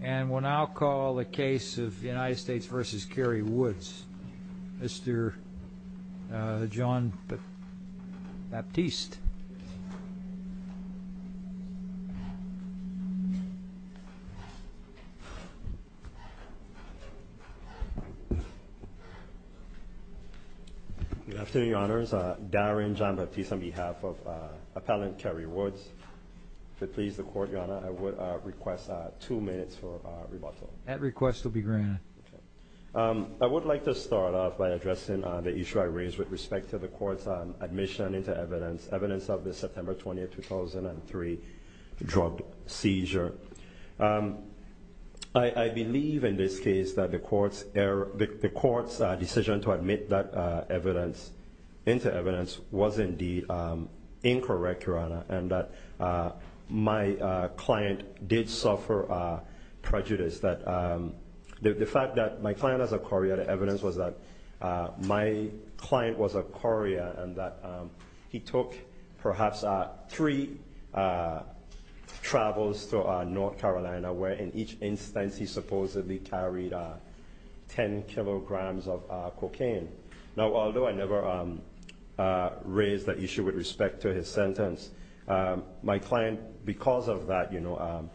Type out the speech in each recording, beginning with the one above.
And we'll now call the case of the United States versus Kerry Woods, Mr. John Baptiste. Good afternoon, Your Honors. Darren John Baptiste on behalf of Appellant Kerry Woods. If it pleases the Court, Your Honor, I would request two minutes for rebuttal. At request will be granted. I would like to start off by addressing the issue I raised with respect to the Court's admission into evidence, evidence of the September 20, 2003 drug seizure. I believe in this case that the Court's decision to admit that evidence into evidence was indeed incorrect, Your Honor, and that my client did suffer prejudice. The fact that my client has a chorea, the evidence was that my client was a chorea and that he took perhaps three travels to North Carolina, where in each instance he supposedly carried 10 kilograms of cocaine. Now, although I never raised that issue with respect to his sentence, my client, because of that, you know,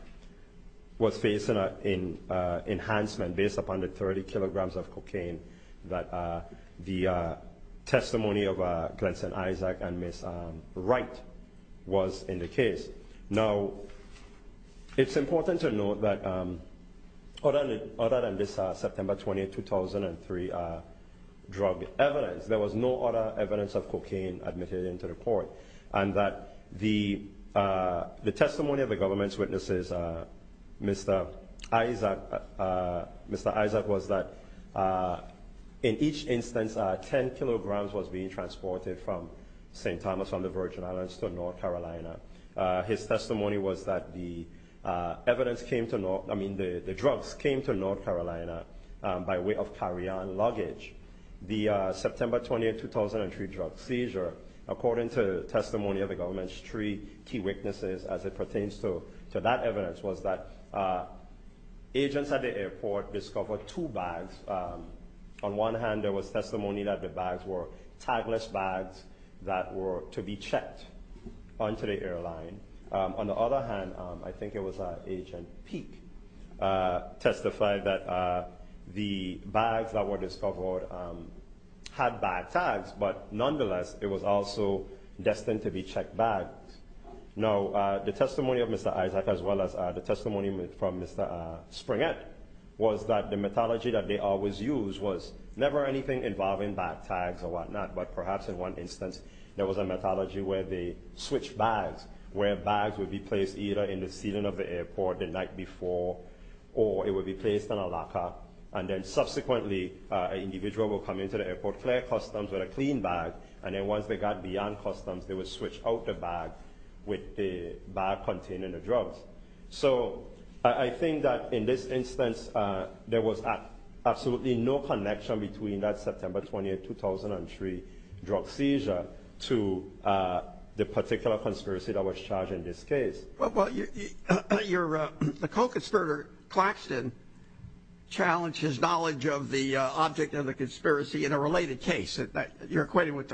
was facing an enhancement based upon the 30 kilograms of cocaine that the testimony of Glenson Isaac and Ms. Wright was in the case. Now, it's important to note that other than this September 20, 2003 drug evidence, there was no other evidence of cocaine admitted into the Court, and that the testimony of the government's witnesses, Mr. Isaac, was that in each instance 10 kilograms was being transported from St. Thomas on the Virgin Islands to North Carolina. His testimony was that the drugs came to North Carolina by way of carry-on luggage. The September 20, 2003 drug seizure, according to testimony of the government's three key witnesses as it pertains to that evidence, was that agents at the airport discovered two bags. On one hand, there was testimony that the bags were tagless bags that were to be checked onto the airline. On the other hand, I think it was Agent Peake testified that the bags that were discovered had bag tags, but nonetheless it was also destined to be checked bags. Now, the testimony of Mr. Isaac, as well as the testimony from Mr. Springett, was that the methodology that they always used was never anything involving bag tags or whatnot, but perhaps in one instance there was a methodology where they switched bags, where bags would be placed either in the ceiling of the airport the night before or it would be placed in a locker, and then subsequently an individual would come into the airport, clear customs with a clean bag, and then once they got beyond customs they would switch out the bag with the bag containing the drugs. So I think that in this instance there was absolutely no connection between that September 20, 2003 drug seizure to the particular conspiracy that was charged in this case. Well, the co-conspirator, Claxton, challenged his knowledge of the object of the conspiracy in a related case. You're equating with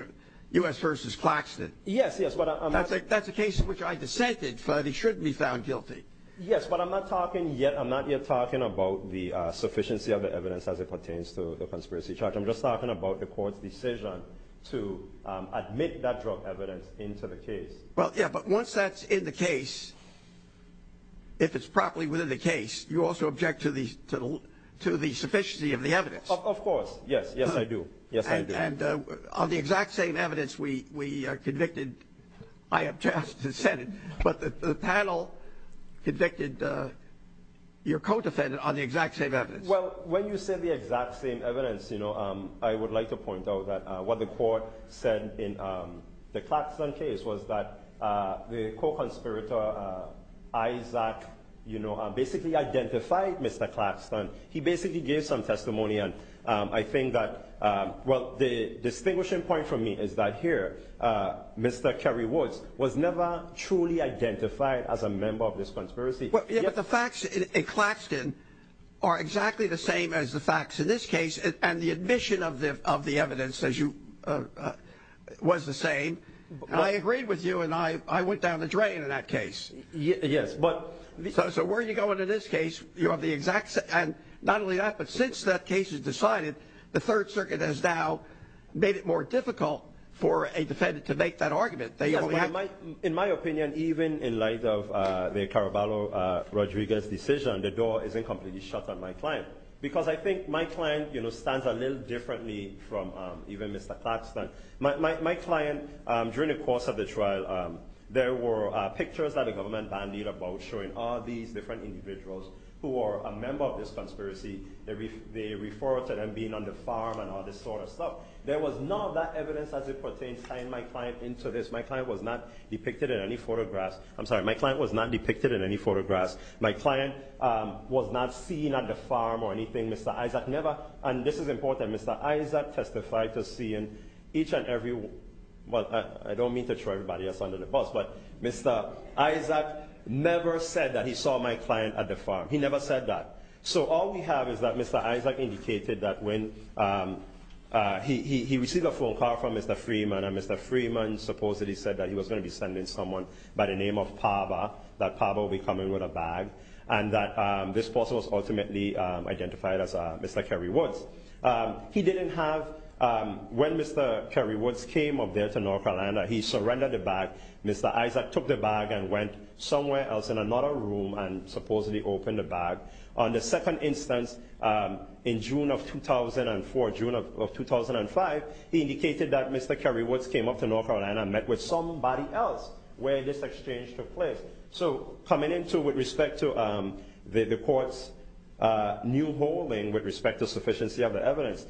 U.S. v. Claxton. Yes, yes. That's a case in which I dissented, but he shouldn't be found guilty. Yes, but I'm not talking yet, I'm not yet talking about the sufficiency of the evidence as it pertains to the conspiracy charge. I'm just talking about the court's decision to admit that drug evidence into the case. Well, yeah, but once that's in the case, if it's properly within the case, you also object to the sufficiency of the evidence. Of course, yes, yes I do. And on the exact same evidence we convicted, I object to the Senate, but the panel convicted your co-defendant on the exact same evidence. Well, when you say the exact same evidence, you know, I would like to point out that what the court said in the Claxton case was that the co-conspirator, Isaac, you know, basically identified Mr. Claxton. He basically gave some testimony, and I think that, well, the distinguishing point for me is that here, Mr. Kerry Woods was never truly identified as a member of this conspiracy. Yeah, but the facts in Claxton are exactly the same as the facts in this case, and the admission of the evidence was the same. I agreed with you, and I went down the drain in that case. So where you go into this case, you have the exact same, and not only that, but since that case is decided, the Third Circuit has now made it more difficult for a defendant to make that argument. In my opinion, even in light of the Caraballo-Rodriguez decision, the door isn't completely shut on my client, because I think my client, you know, stands a little differently from even Mr. Claxton. My client, during the course of the trial, there were pictures that the government bandied about showing all these different individuals who are a member of this conspiracy. They refer to them being on the farm and all this sort of stuff. There was none of that evidence as it pertains tying my client into this. My client was not depicted in any photographs. I'm sorry, my client was not depicted in any photographs. My client was not seen at the farm or anything. Mr. Isaac never, and this is important, Mr. Isaac testified to seeing each and every, well, I don't mean to throw everybody under the bus, but Mr. Isaac never said that he saw my client at the farm. He never said that. So all we have is that Mr. Isaac indicated that when he received a phone call from Mr. Freeman and Mr. Freeman supposedly said that he was going to be sending someone by the name of Parba, that Parba would be coming with a bag, and that this person was ultimately identified as Mr. Kerry Woods. He didn't have, when Mr. Kerry Woods came up there to North Carolina, he surrendered the bag. Mr. Isaac took the bag and went somewhere else in another room and supposedly opened the bag. On the second instance, in June of 2004, June of 2005, he indicated that Mr. Kerry Woods came up to North Carolina and met with somebody else where this exchange took place. So coming into with respect to the court's new holding with respect to sufficiency of the evidence,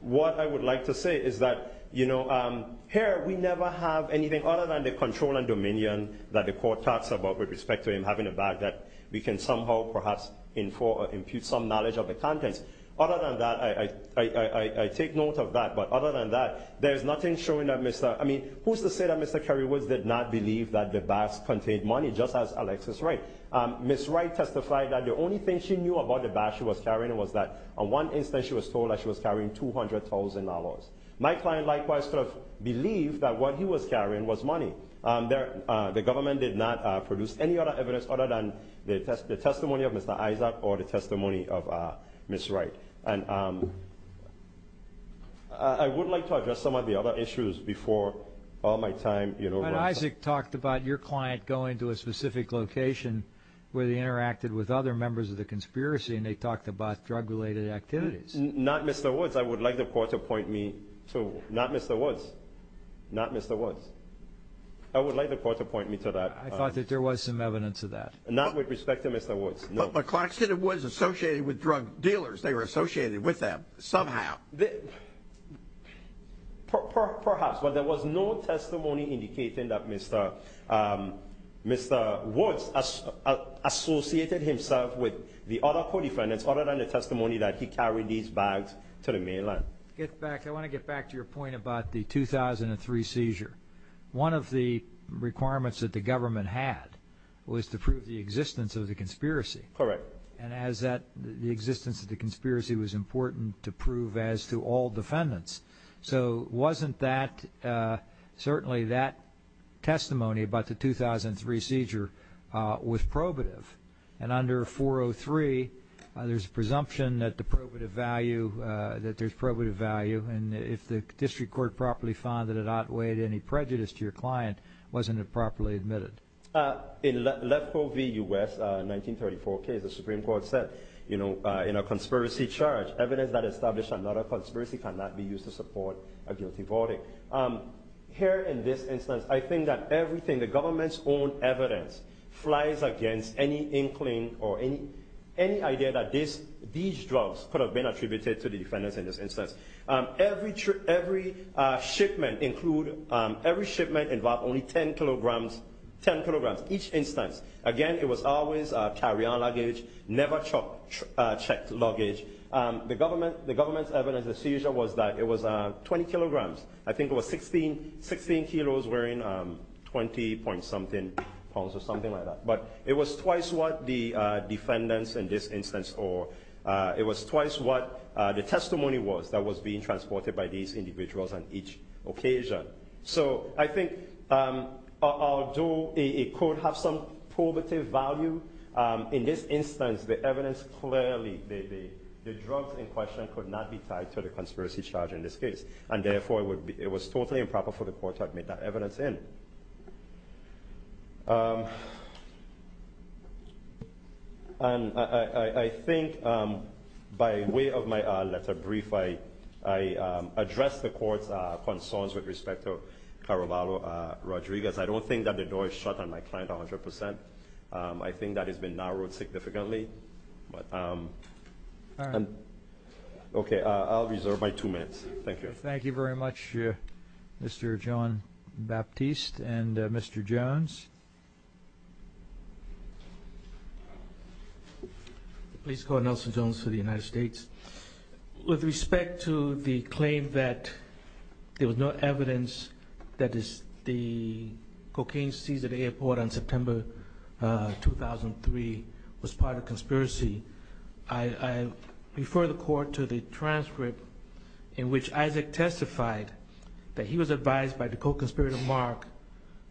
what I would like to say is that, you know, here we never have anything other than the control and dominion that the court talks about with respect to him having a bag that we can somehow perhaps infuse some knowledge of the contents. Other than that, I take note of that, but other than that, there's nothing showing that Mr., I mean, who's to say that Mr. Kerry Woods did not believe that the bag contained money, just as Alexis Wright. Ms. Wright testified that the only thing she knew about the bag she was carrying was that on one instance she was told that she was carrying $200,000. My client likewise sort of believed that what he was carrying was money. The government did not produce any other evidence other than the testimony of Mr. Isaac or the testimony of Ms. Wright. And I would like to address some of the other issues before all my time runs out. But Isaac talked about your client going to a specific location where they interacted with other members of the conspiracy and they talked about drug-related activities. Not Mr. Woods. I would like the court to point me to. Not Mr. Woods. Not Mr. Woods. I would like the court to point me to that. I thought that there was some evidence of that. Not with respect to Mr. Woods, no. My client said it was associated with drug dealers. They were associated with them somehow. Perhaps, but there was no testimony indicating that Mr. Woods associated himself with the other co-defendants other than the testimony that he carried these bags to the mainland. I want to get back to your point about the 2003 seizure. One of the requirements that the government had was to prove the existence of the conspiracy. Correct. And as that the existence of the conspiracy was important to prove as to all defendants. So wasn't that certainly that testimony about the 2003 seizure was probative? And under 403, there's a presumption that the probative value, that there's probative value. And if the district court properly found that it outweighed any prejudice to your client, wasn't it properly admitted? In Lefkoe v. U.S., 1934 case, the Supreme Court said, you know, in a conspiracy charge, evidence that established another conspiracy cannot be used to support a guilty voting. Here in this instance, I think that everything, the government's own evidence, flies against any inkling or any idea that these drugs could have been attributed to the defendants in this instance. Every shipment included, every shipment involved only 10 kilograms, 10 kilograms, each instance. Again, it was always carry-on luggage, never checked luggage. The government's evidence of the seizure was that it was 20 kilograms. I think it was 16 kilos, weighing 20-point-something pounds or something like that. But it was twice what the defendants in this instance, or it was twice what the testimony was that was being transported by these individuals on each occasion. So I think although it could have some probative value, in this instance, the evidence clearly, the drugs in question could not be tied to the conspiracy charge in this case. And therefore, it was totally improper for the court to admit that evidence in. And I think by way of my letter brief, I addressed the court's concerns with respect to Caravalo Rodriguez. I don't think that the door is shut on my client 100 percent. I think that has been narrowed significantly. All right. Okay, I'll reserve my two minutes. Thank you. Thank you very much, Mr. John Baptiste. And Mr. Jones? Please call Nelson Jones for the United States. With respect to the claim that there was no evidence that the cocaine seized at the airport on September 2003 was part of a conspiracy, I refer the court to the transcript in which Isaac testified that he was advised by the co-conspirator, Mark,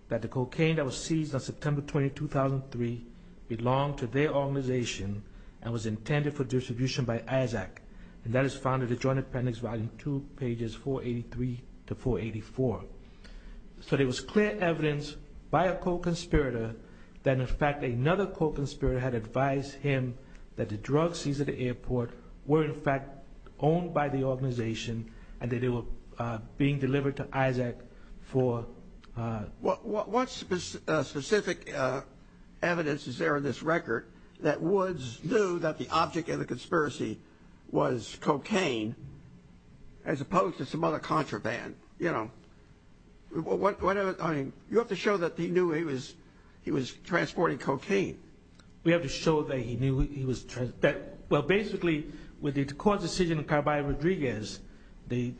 that the cocaine that was seized on September 20, 2003 belonged to their organization and was intended for distribution by Isaac. And that is found in the Joint Appendix Volume 2, pages 483 to 484. So there was clear evidence by a co-conspirator that, in fact, another co-conspirator had advised him that the drugs seized at the airport were, in fact, owned by the organization and that they were being delivered to Isaac for- What specific evidence is there in this record that Woods knew that the object of the conspiracy was cocaine as opposed to some other contraband? You have to show that he knew he was transporting cocaine. We have to show that he knew he was- Well, basically, with the court's decision in Caraballo-Rodriguez,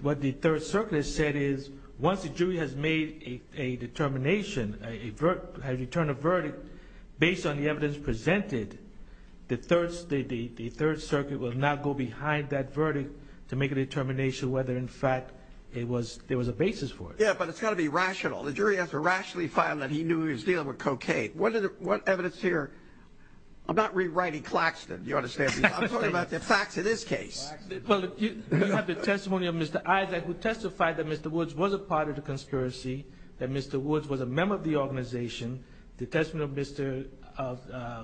what the Third Circuit has said is once a jury has made a determination, has returned a verdict based on the evidence presented, the Third Circuit will not go behind that verdict to make a determination whether, in fact, there was a basis for it. Yeah, but it's got to be rational. The jury has to rationally find that he knew he was dealing with cocaine. What evidence here- I'm not rewriting Claxton, do you understand me? I'm talking about the facts in this case. Well, you have the testimony of Mr. Isaac, who testified that Mr. Woods was a part of the conspiracy, that Mr. Woods was a member of the organization, the testimony of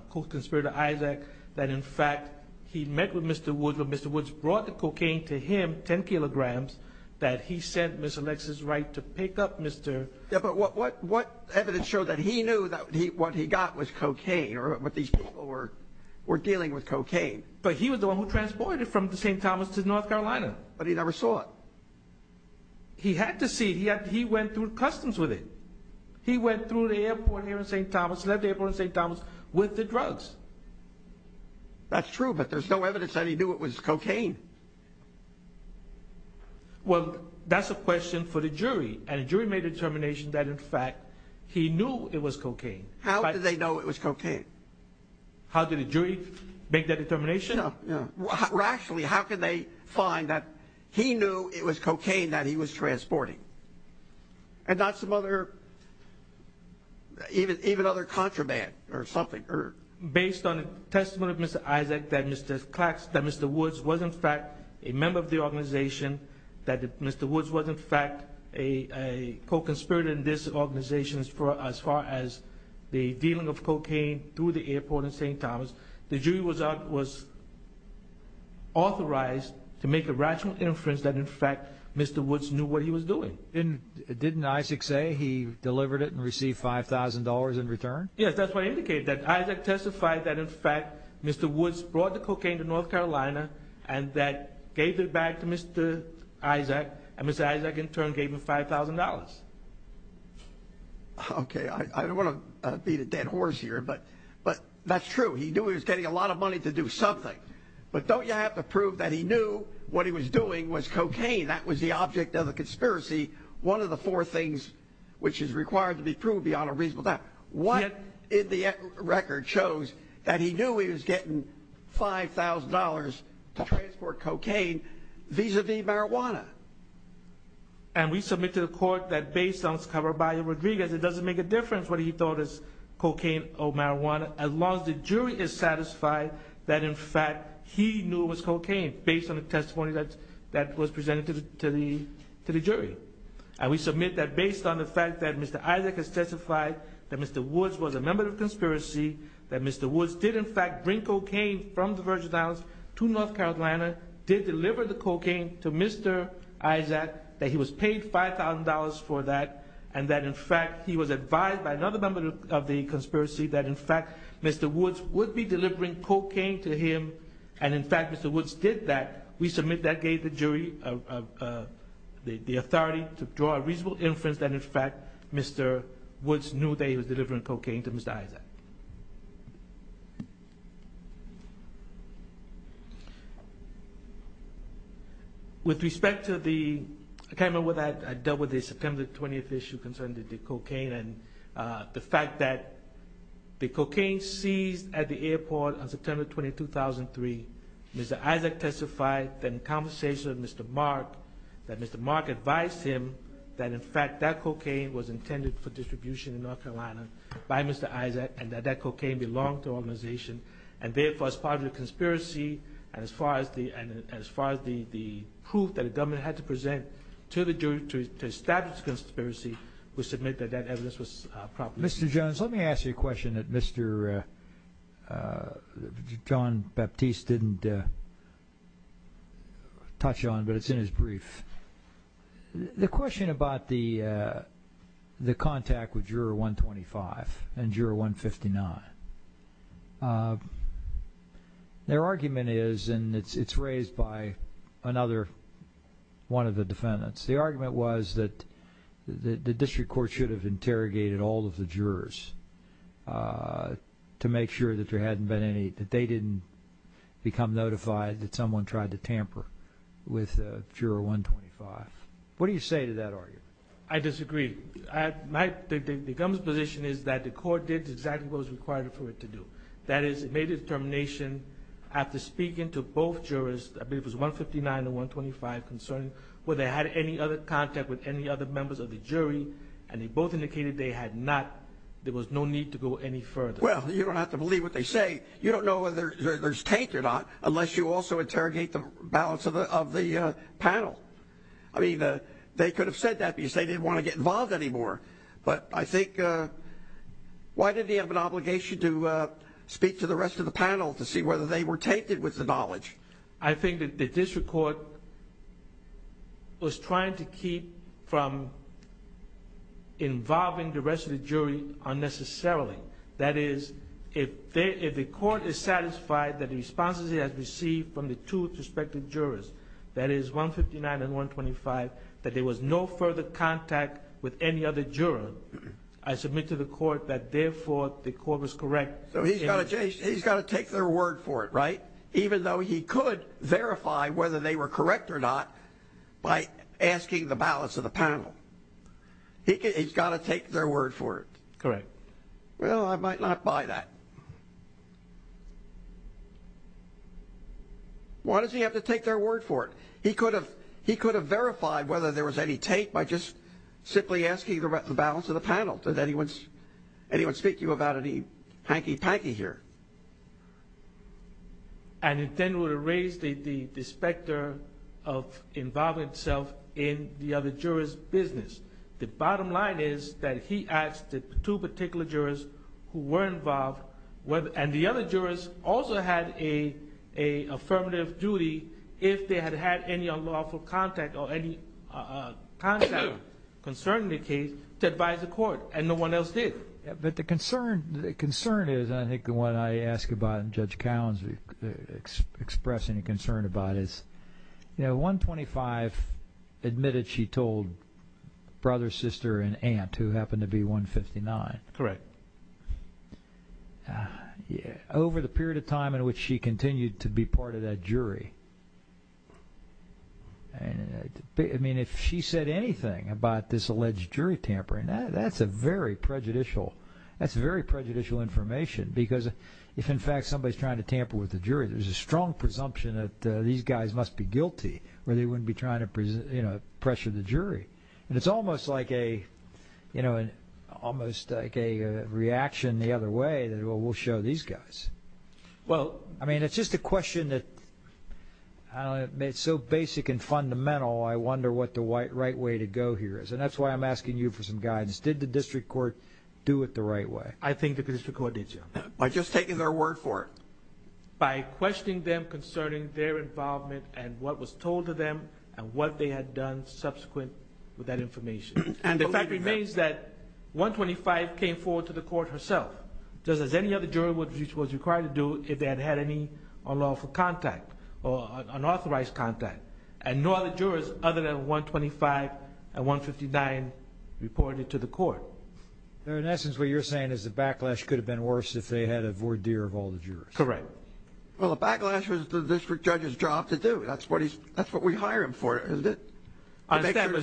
Co-Conspirator Isaac, that, in fact, he met with Mr. Woods when Mr. Woods brought the cocaine to him, 10 kilograms, that he sent Ms. Alexis Wright to pick up Mr.- Yeah, but what evidence showed that he knew that what he got was cocaine, or what these people were dealing with cocaine? But he was the one who transported it from St. Thomas to North Carolina. But he never saw it. He had to see it. He went through customs with it. He went through the airport here in St. Thomas, left the airport in St. Thomas with the drugs. That's true, but there's no evidence that he knew it was cocaine. Well, that's a question for the jury, and a jury made a determination that, in fact, he knew it was cocaine. How did they know it was cocaine? How did a jury make that determination? Rationally, how could they find that he knew it was cocaine that he was transporting? And not some other- even other contraband or something? Based on the testimony of Mr. Isaac, that Mr. Woods was, in fact, a member of the organization, that Mr. Woods was, in fact, a Co-Conspirator in this organization as far as the dealing of cocaine through the airport in St. Thomas, the jury was authorized to make a rational inference that, in fact, Mr. Woods knew what he was doing. Didn't Isaac say he delivered it and received $5,000 in return? Yes, that's what I indicated, that Isaac testified that, in fact, Mr. Woods brought the cocaine to North Carolina and that gave it back to Mr. Isaac, and Mr. Isaac, in turn, gave him $5,000. Okay, I don't want to beat a dead horse here, but that's true. He knew he was getting a lot of money to do something, but don't you have to prove that he knew what he was doing was cocaine? That was the object of the conspiracy, one of the four things which is required to be proved beyond a reasonable doubt. What in the record shows that he knew he was getting $5,000 to transport cocaine vis-à-vis marijuana? And we submit to the court that, based on what's covered by Rodriguez, it doesn't make a difference whether he thought it was cocaine or marijuana, as long as the jury is satisfied that, in fact, he knew it was cocaine, based on the testimony that was presented to the jury. And we submit that, based on the fact that Mr. Isaac has testified that Mr. Woods was a member of the conspiracy, that Mr. Woods did, in fact, bring cocaine from the Virgin Islands to North Carolina, did deliver the cocaine to Mr. Isaac, that he was paid $5,000 for that, and that, in fact, he was advised by another member of the conspiracy that, in fact, Mr. Woods would be delivering cocaine to him, and, in fact, Mr. Woods did that. We submit that gave the jury the authority to draw a reasonable inference that, in fact, Mr. Woods knew that he was delivering cocaine to Mr. Isaac. With respect to the – I can't remember whether I dealt with the September 20th issue concerning the cocaine, and the fact that the cocaine seized at the airport on September 20th, 2003, Mr. Isaac testified that in conversation with Mr. Mark, that Mr. Mark advised him that, in fact, that cocaine was intended for distribution in North Carolina by Mr. Isaac, and that that cocaine belonged to an organization. And, therefore, as part of the conspiracy, and as far as the proof that the government had to present to the jury to establish the conspiracy, we submit that that evidence was properly used. Mr. Jones, let me ask you a question that Mr. John Baptiste didn't touch on, but it's in his brief. The question about the contact with Juror 125 and Juror 159, their argument is – and it's raised by another one of the defendants – but the argument was that the district court should have interrogated all of the jurors to make sure that there hadn't been any – that they didn't become notified that someone tried to tamper with Juror 125. What do you say to that argument? I disagree. The government's position is that the court did exactly what was required for it to do. That is, it made a determination after speaking to both jurors – I believe it was 159 and 125 – whether they had any other contact with any other members of the jury, and they both indicated there was no need to go any further. Well, you don't have to believe what they say. You don't know whether there's taint or not unless you also interrogate the balance of the panel. I mean, they could have said that because they didn't want to get involved anymore. But I think – why did he have an obligation to speak to the rest of the panel to see whether they were tainted with the knowledge? I think that the district court was trying to keep from involving the rest of the jury unnecessarily. That is, if the court is satisfied that the responses it has received from the two suspected jurors, that is, 159 and 125, that there was no further contact with any other juror, I submit to the court that, therefore, the court was correct. So he's got to take their word for it, right? Even though he could verify whether they were correct or not by asking the balance of the panel. He's got to take their word for it. Correct. Well, I might not buy that. Why does he have to take their word for it? He could have verified whether there was any taint by just simply asking the balance of the panel. Does anyone speak to you about any hanky-panky here? And it then would have raised the specter of involving itself in the other juror's business. The bottom line is that he asked the two particular jurors who were involved, and the other jurors also had an affirmative duty if they had had any unlawful contact or any contact concerning the case, to advise the court, and no one else did. But the concern is, and I think the one I ask about and Judge Cowens expressed any concern about is, you know, 125 admitted she told brother, sister, and aunt, who happened to be 159. Correct. Over the period of time in which she continued to be part of that jury, I mean, if she said anything about this alleged jury tampering, that's a very prejudicial information, because if, in fact, somebody's trying to tamper with the jury, there's a strong presumption that these guys must be guilty or they wouldn't be trying to pressure the jury. And it's almost like a reaction the other way that, well, we'll show these guys. Well, I mean, it's just a question that's so basic and fundamental, I wonder what the right way to go here is. And that's why I'm asking you for some guidance. Did the district court do it the right way? I think the district court did, Joe. By just taking their word for it. By questioning them concerning their involvement and what was told to them and what they had done subsequent with that information. And the fact remains that 125 came forward to the court herself. Just as any other jury was required to do if they had had any unlawful contact or unauthorized contact. And no other jurors, other than 125 and 159, reported it to the court. In essence, what you're saying is the backlash could have been worse if they had a voir dire of all the jurors. Correct. Well, the backlash was the district judge's job to do. That's what we hire him for, isn't it? I understand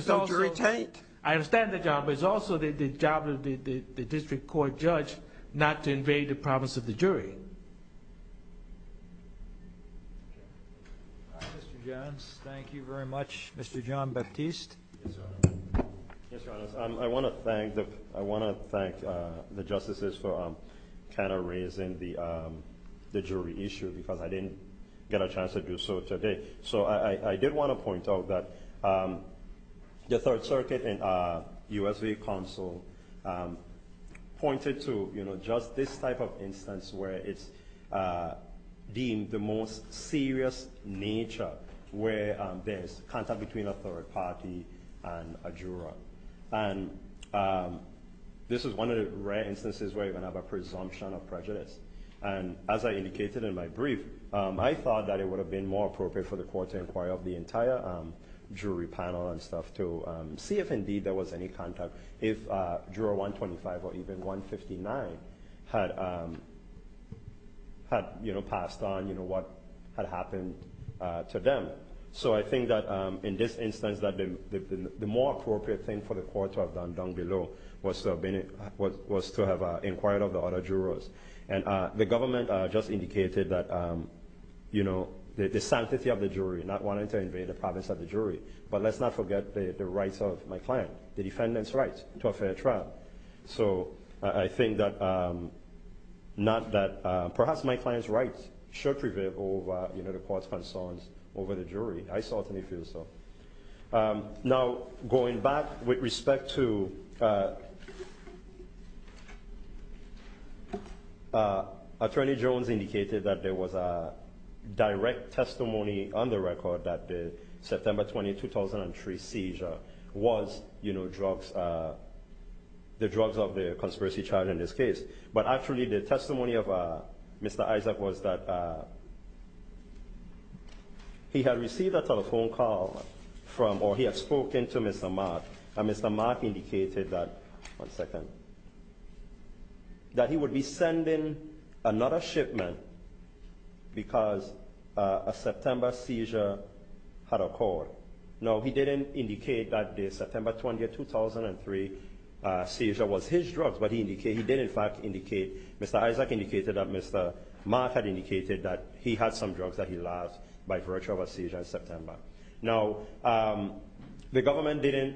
the job, but it's also the job of the district court judge not to invade the province of the jury. All right, Mr. Jones. Thank you very much. Mr. John Baptiste. Yes, Your Honor. I want to thank the justices for kind of raising the jury issue because I didn't get a chance to do so today. So I did want to point out that the Third Circuit and U.S. State Council pointed to just this type of instance where it's deemed the most serious nature where there's contact between a third party and a juror. And this is one of the rare instances where you can have a presumption of prejudice. And as I indicated in my brief, I thought that it would have been more appropriate for the court to inquire of the entire jury panel and stuff to see if indeed there was any contact, if juror 125 or even 159 had passed on what had happened to them. So I think that in this instance, the more appropriate thing for the court to have done down below was to have inquired of the other jurors. And the government just indicated that the sanctity of the jury, not wanting to invade the province of the jury. But let's not forget the rights of my client, the defendant's rights to a fair trial. So I think that perhaps my client's rights should prevail over the court's concerns over the jury. I certainly feel so. Now, going back with respect to Attorney Jones indicated that there was a direct testimony on the record that the September 20, 2003 seizure was the drugs of the conspiracy trial in this case. But actually the testimony of Mr. Isaac was that he had received a telephone call from, or he had spoken to Mr. Mark. And Mr. Mark indicated that, one second, that he would be sending another shipment because a September seizure had occurred. Now, he didn't indicate that the September 20, 2003 seizure was his drugs. But he did in fact indicate, Mr. Isaac indicated that Mr. Mark had indicated that he had some drugs that he lost by virtue of a seizure in September. Now, the government didn't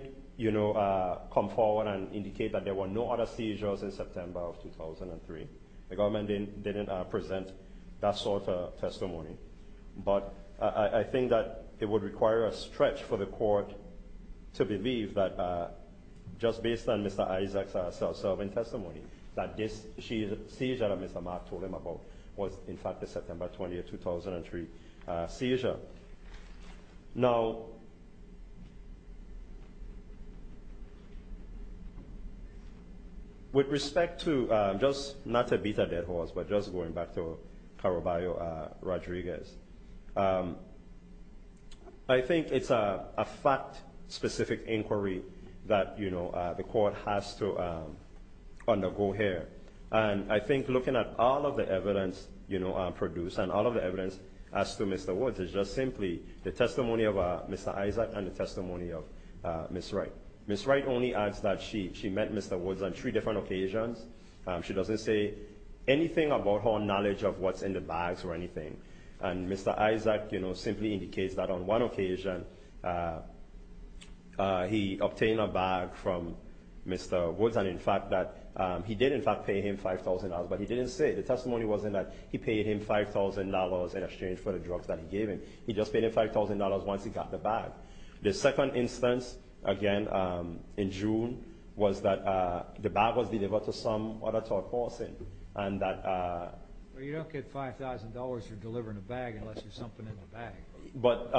come forward and indicate that there were no other seizures in September of 2003. The government didn't present that sort of testimony. But I think that it would require a stretch for the court to believe that just based on Mr. Isaac's self-serving testimony, that this seizure that Mr. Mark told him about was in fact the September 20, 2003 seizure. Now, with respect to just, not to beat a dead horse, but just going back to Caraballo-Rodriguez, I think it's a fact-specific inquiry that the court has to undergo here. And I think looking at all of the evidence produced and all of the evidence as to Mr. Woods is just simply the testimony of Mr. Isaac and the testimony of Ms. Wright. Ms. Wright only adds that she met Mr. Woods on three different occasions. She doesn't say anything about her knowledge of what's in the bags or anything. And Mr. Isaac simply indicates that on one occasion, he obtained a bag from Mr. Woods. And, in fact, that he did, in fact, pay him $5,000. But he didn't say. The testimony wasn't that he paid him $5,000 in exchange for the drugs that he gave him. He just paid him $5,000 once he got the bag. The second instance, again, in June, was that the bag was delivered to some other top person and that— Well, you don't get $5,000 for delivering a bag unless there's something in the bag. But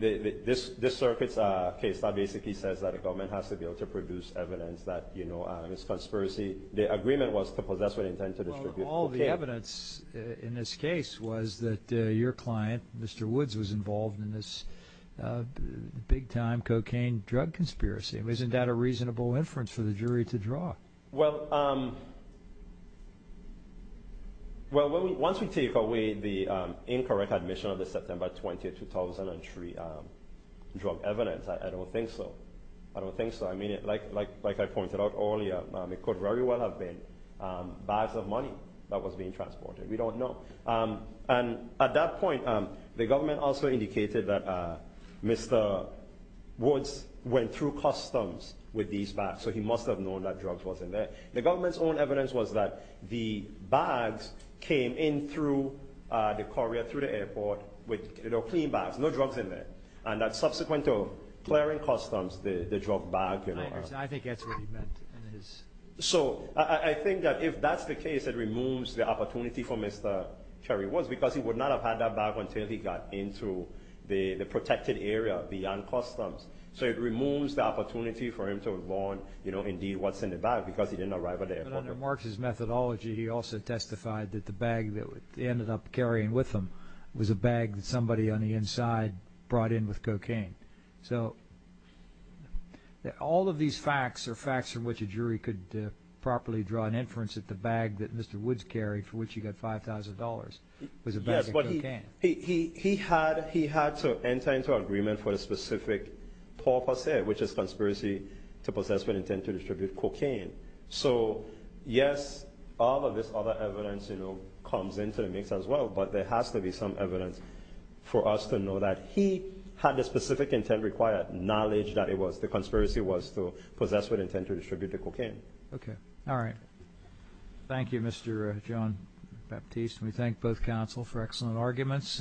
this circuit's a case that basically says that the government has to be able to produce evidence that, you know, it's a conspiracy. The agreement was to possess with intent to distribute cocaine. Well, all the evidence in this case was that your client, Mr. Woods, was involved in this big-time cocaine drug conspiracy. Isn't that a reasonable inference for the jury to draw? Well, once we take away the incorrect admission of the September 20, 2003 drug evidence, I don't think so. I don't think so. I mean, like I pointed out earlier, it could very well have been bags of money that was being transported. We don't know. And at that point, the government also indicated that Mr. Woods went through customs with these bags, so he must have known that drugs wasn't there. The government's own evidence was that the bags came in through the courier, through the airport, with, you know, clean bags, no drugs in there. And that subsequent to clearing customs, the drug bag, you know— I think that's what he meant. So I think that if that's the case, it removes the opportunity for Mr. Cherry Woods because he would not have had that bag until he got into the protected area beyond customs. So it removes the opportunity for him to learn, you know, indeed what's in the bag because he didn't arrive at the airport. But under Mark's methodology, he also testified that the bag that he ended up carrying with him was a bag that somebody on the inside brought in with cocaine. So all of these facts are facts from which a jury could properly draw an inference that the bag that Mr. Woods carried, for which he got $5,000, was a bag of cocaine. Yes, but he had to enter into an agreement for a specific purpose, which is conspiracy to possess with intent to distribute cocaine. So, yes, all of this other evidence, you know, comes into the mix as well. But there has to be some evidence for us to know that he had the specific intent required, knowledge that it was—the conspiracy was to possess with intent to distribute the cocaine. Okay. All right. Thank you, Mr. John Baptiste. We thank both counsel for excellent arguments.